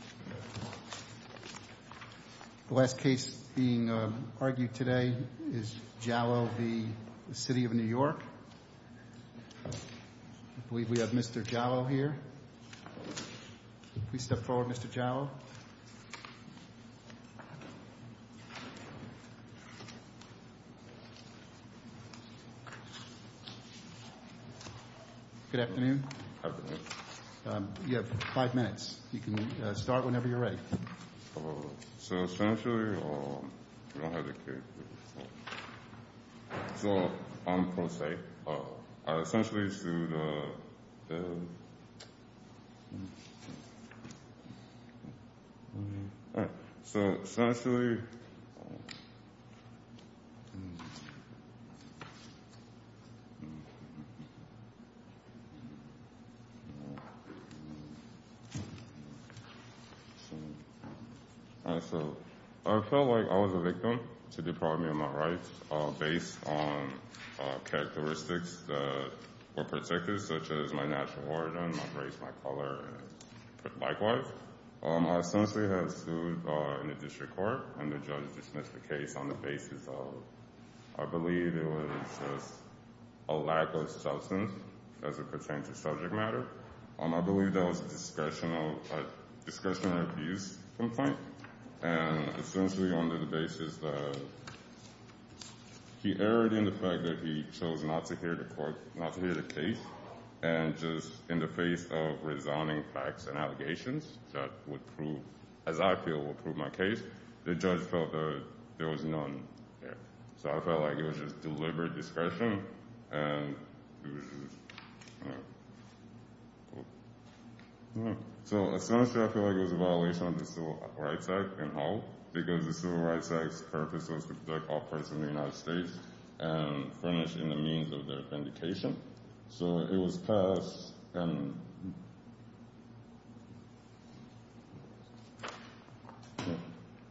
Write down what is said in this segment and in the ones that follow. I believe we have Mr. Jallow here, please step forward Mr. Jallow, good afternoon, you can start whenever you're ready. So essentially, I don't have the case, so I'm pro se, I essentially I feel like I was a victim to deprive me of my rights based on characteristics that were protected such as my national origin, my race, my color, and likewise. I essentially have sued in the district court, and the judge dismissed the case on the basis of, I believe it was just a lack of substance as it pertained to subject matter. I believe that was a discretional, discretional abuse complaint and essentially on the basis of, he erred in the fact that he chose not to hear the case. And just in the face of resounding facts and allegations that would prove, as I feel would prove my case, the judge felt that there was none there. So I felt like it was just deliberate discretion. So essentially I feel like it was a violation of the Civil Rights Act in Hull, because the Civil Rights Act's purpose was to protect all parts of the United States and furnish in the means of their vindication. So it was passed and,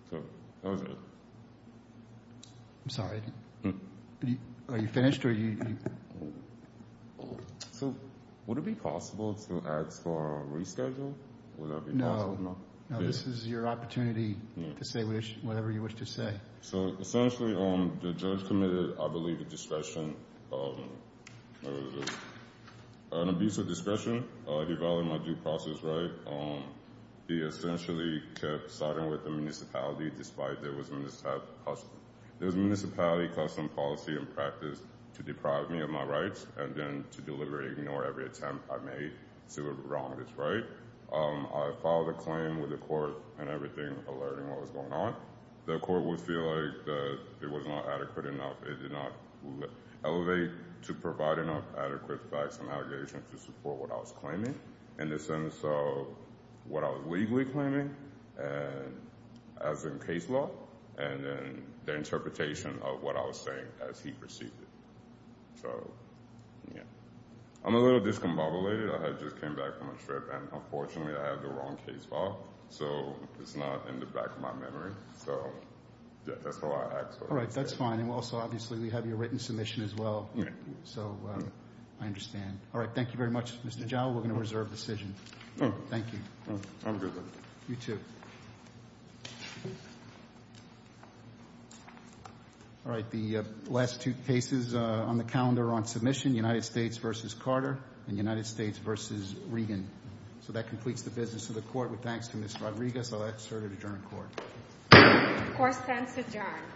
so that was it. I'm sorry. Are you finished? So would it be possible to ask for a reschedule? No. No, this is your opportunity to say whatever you wish to say. So essentially the judge committed, I believe, a discretion, an abuse of discretion. He violated my due process right. He essentially kept siding with the municipality despite there was municipality custom policy and practice to deprive me of my rights and then to deliberately ignore every attempt I made to wrong this right. I filed a claim with the court and everything alerting what was going on. The court would feel like it was not adequate enough. It did not elevate to provide enough adequate facts and allegations to support what I was claiming in the sense of what I was legally claiming as in case law and then the interpretation of what I was saying as he perceived it. I'm a little discombobulated. I just came back from a trip and unfortunately I have the wrong case file. So it's not in the back of my memory. So that's how I act. All right. That's fine. And also obviously we have your written submission as well. So I understand. All right. Thank you very much, Mr. Jowell. We're going to reserve the decision. Thank you. Have a good day. You too. All right. The last two cases on the calendar on submission, United States versus Carter and United States versus Reagan. So that completes the business of the court with thanks to Miss Rodriguez. I'll ask her to adjourn court. Court stands adjourned.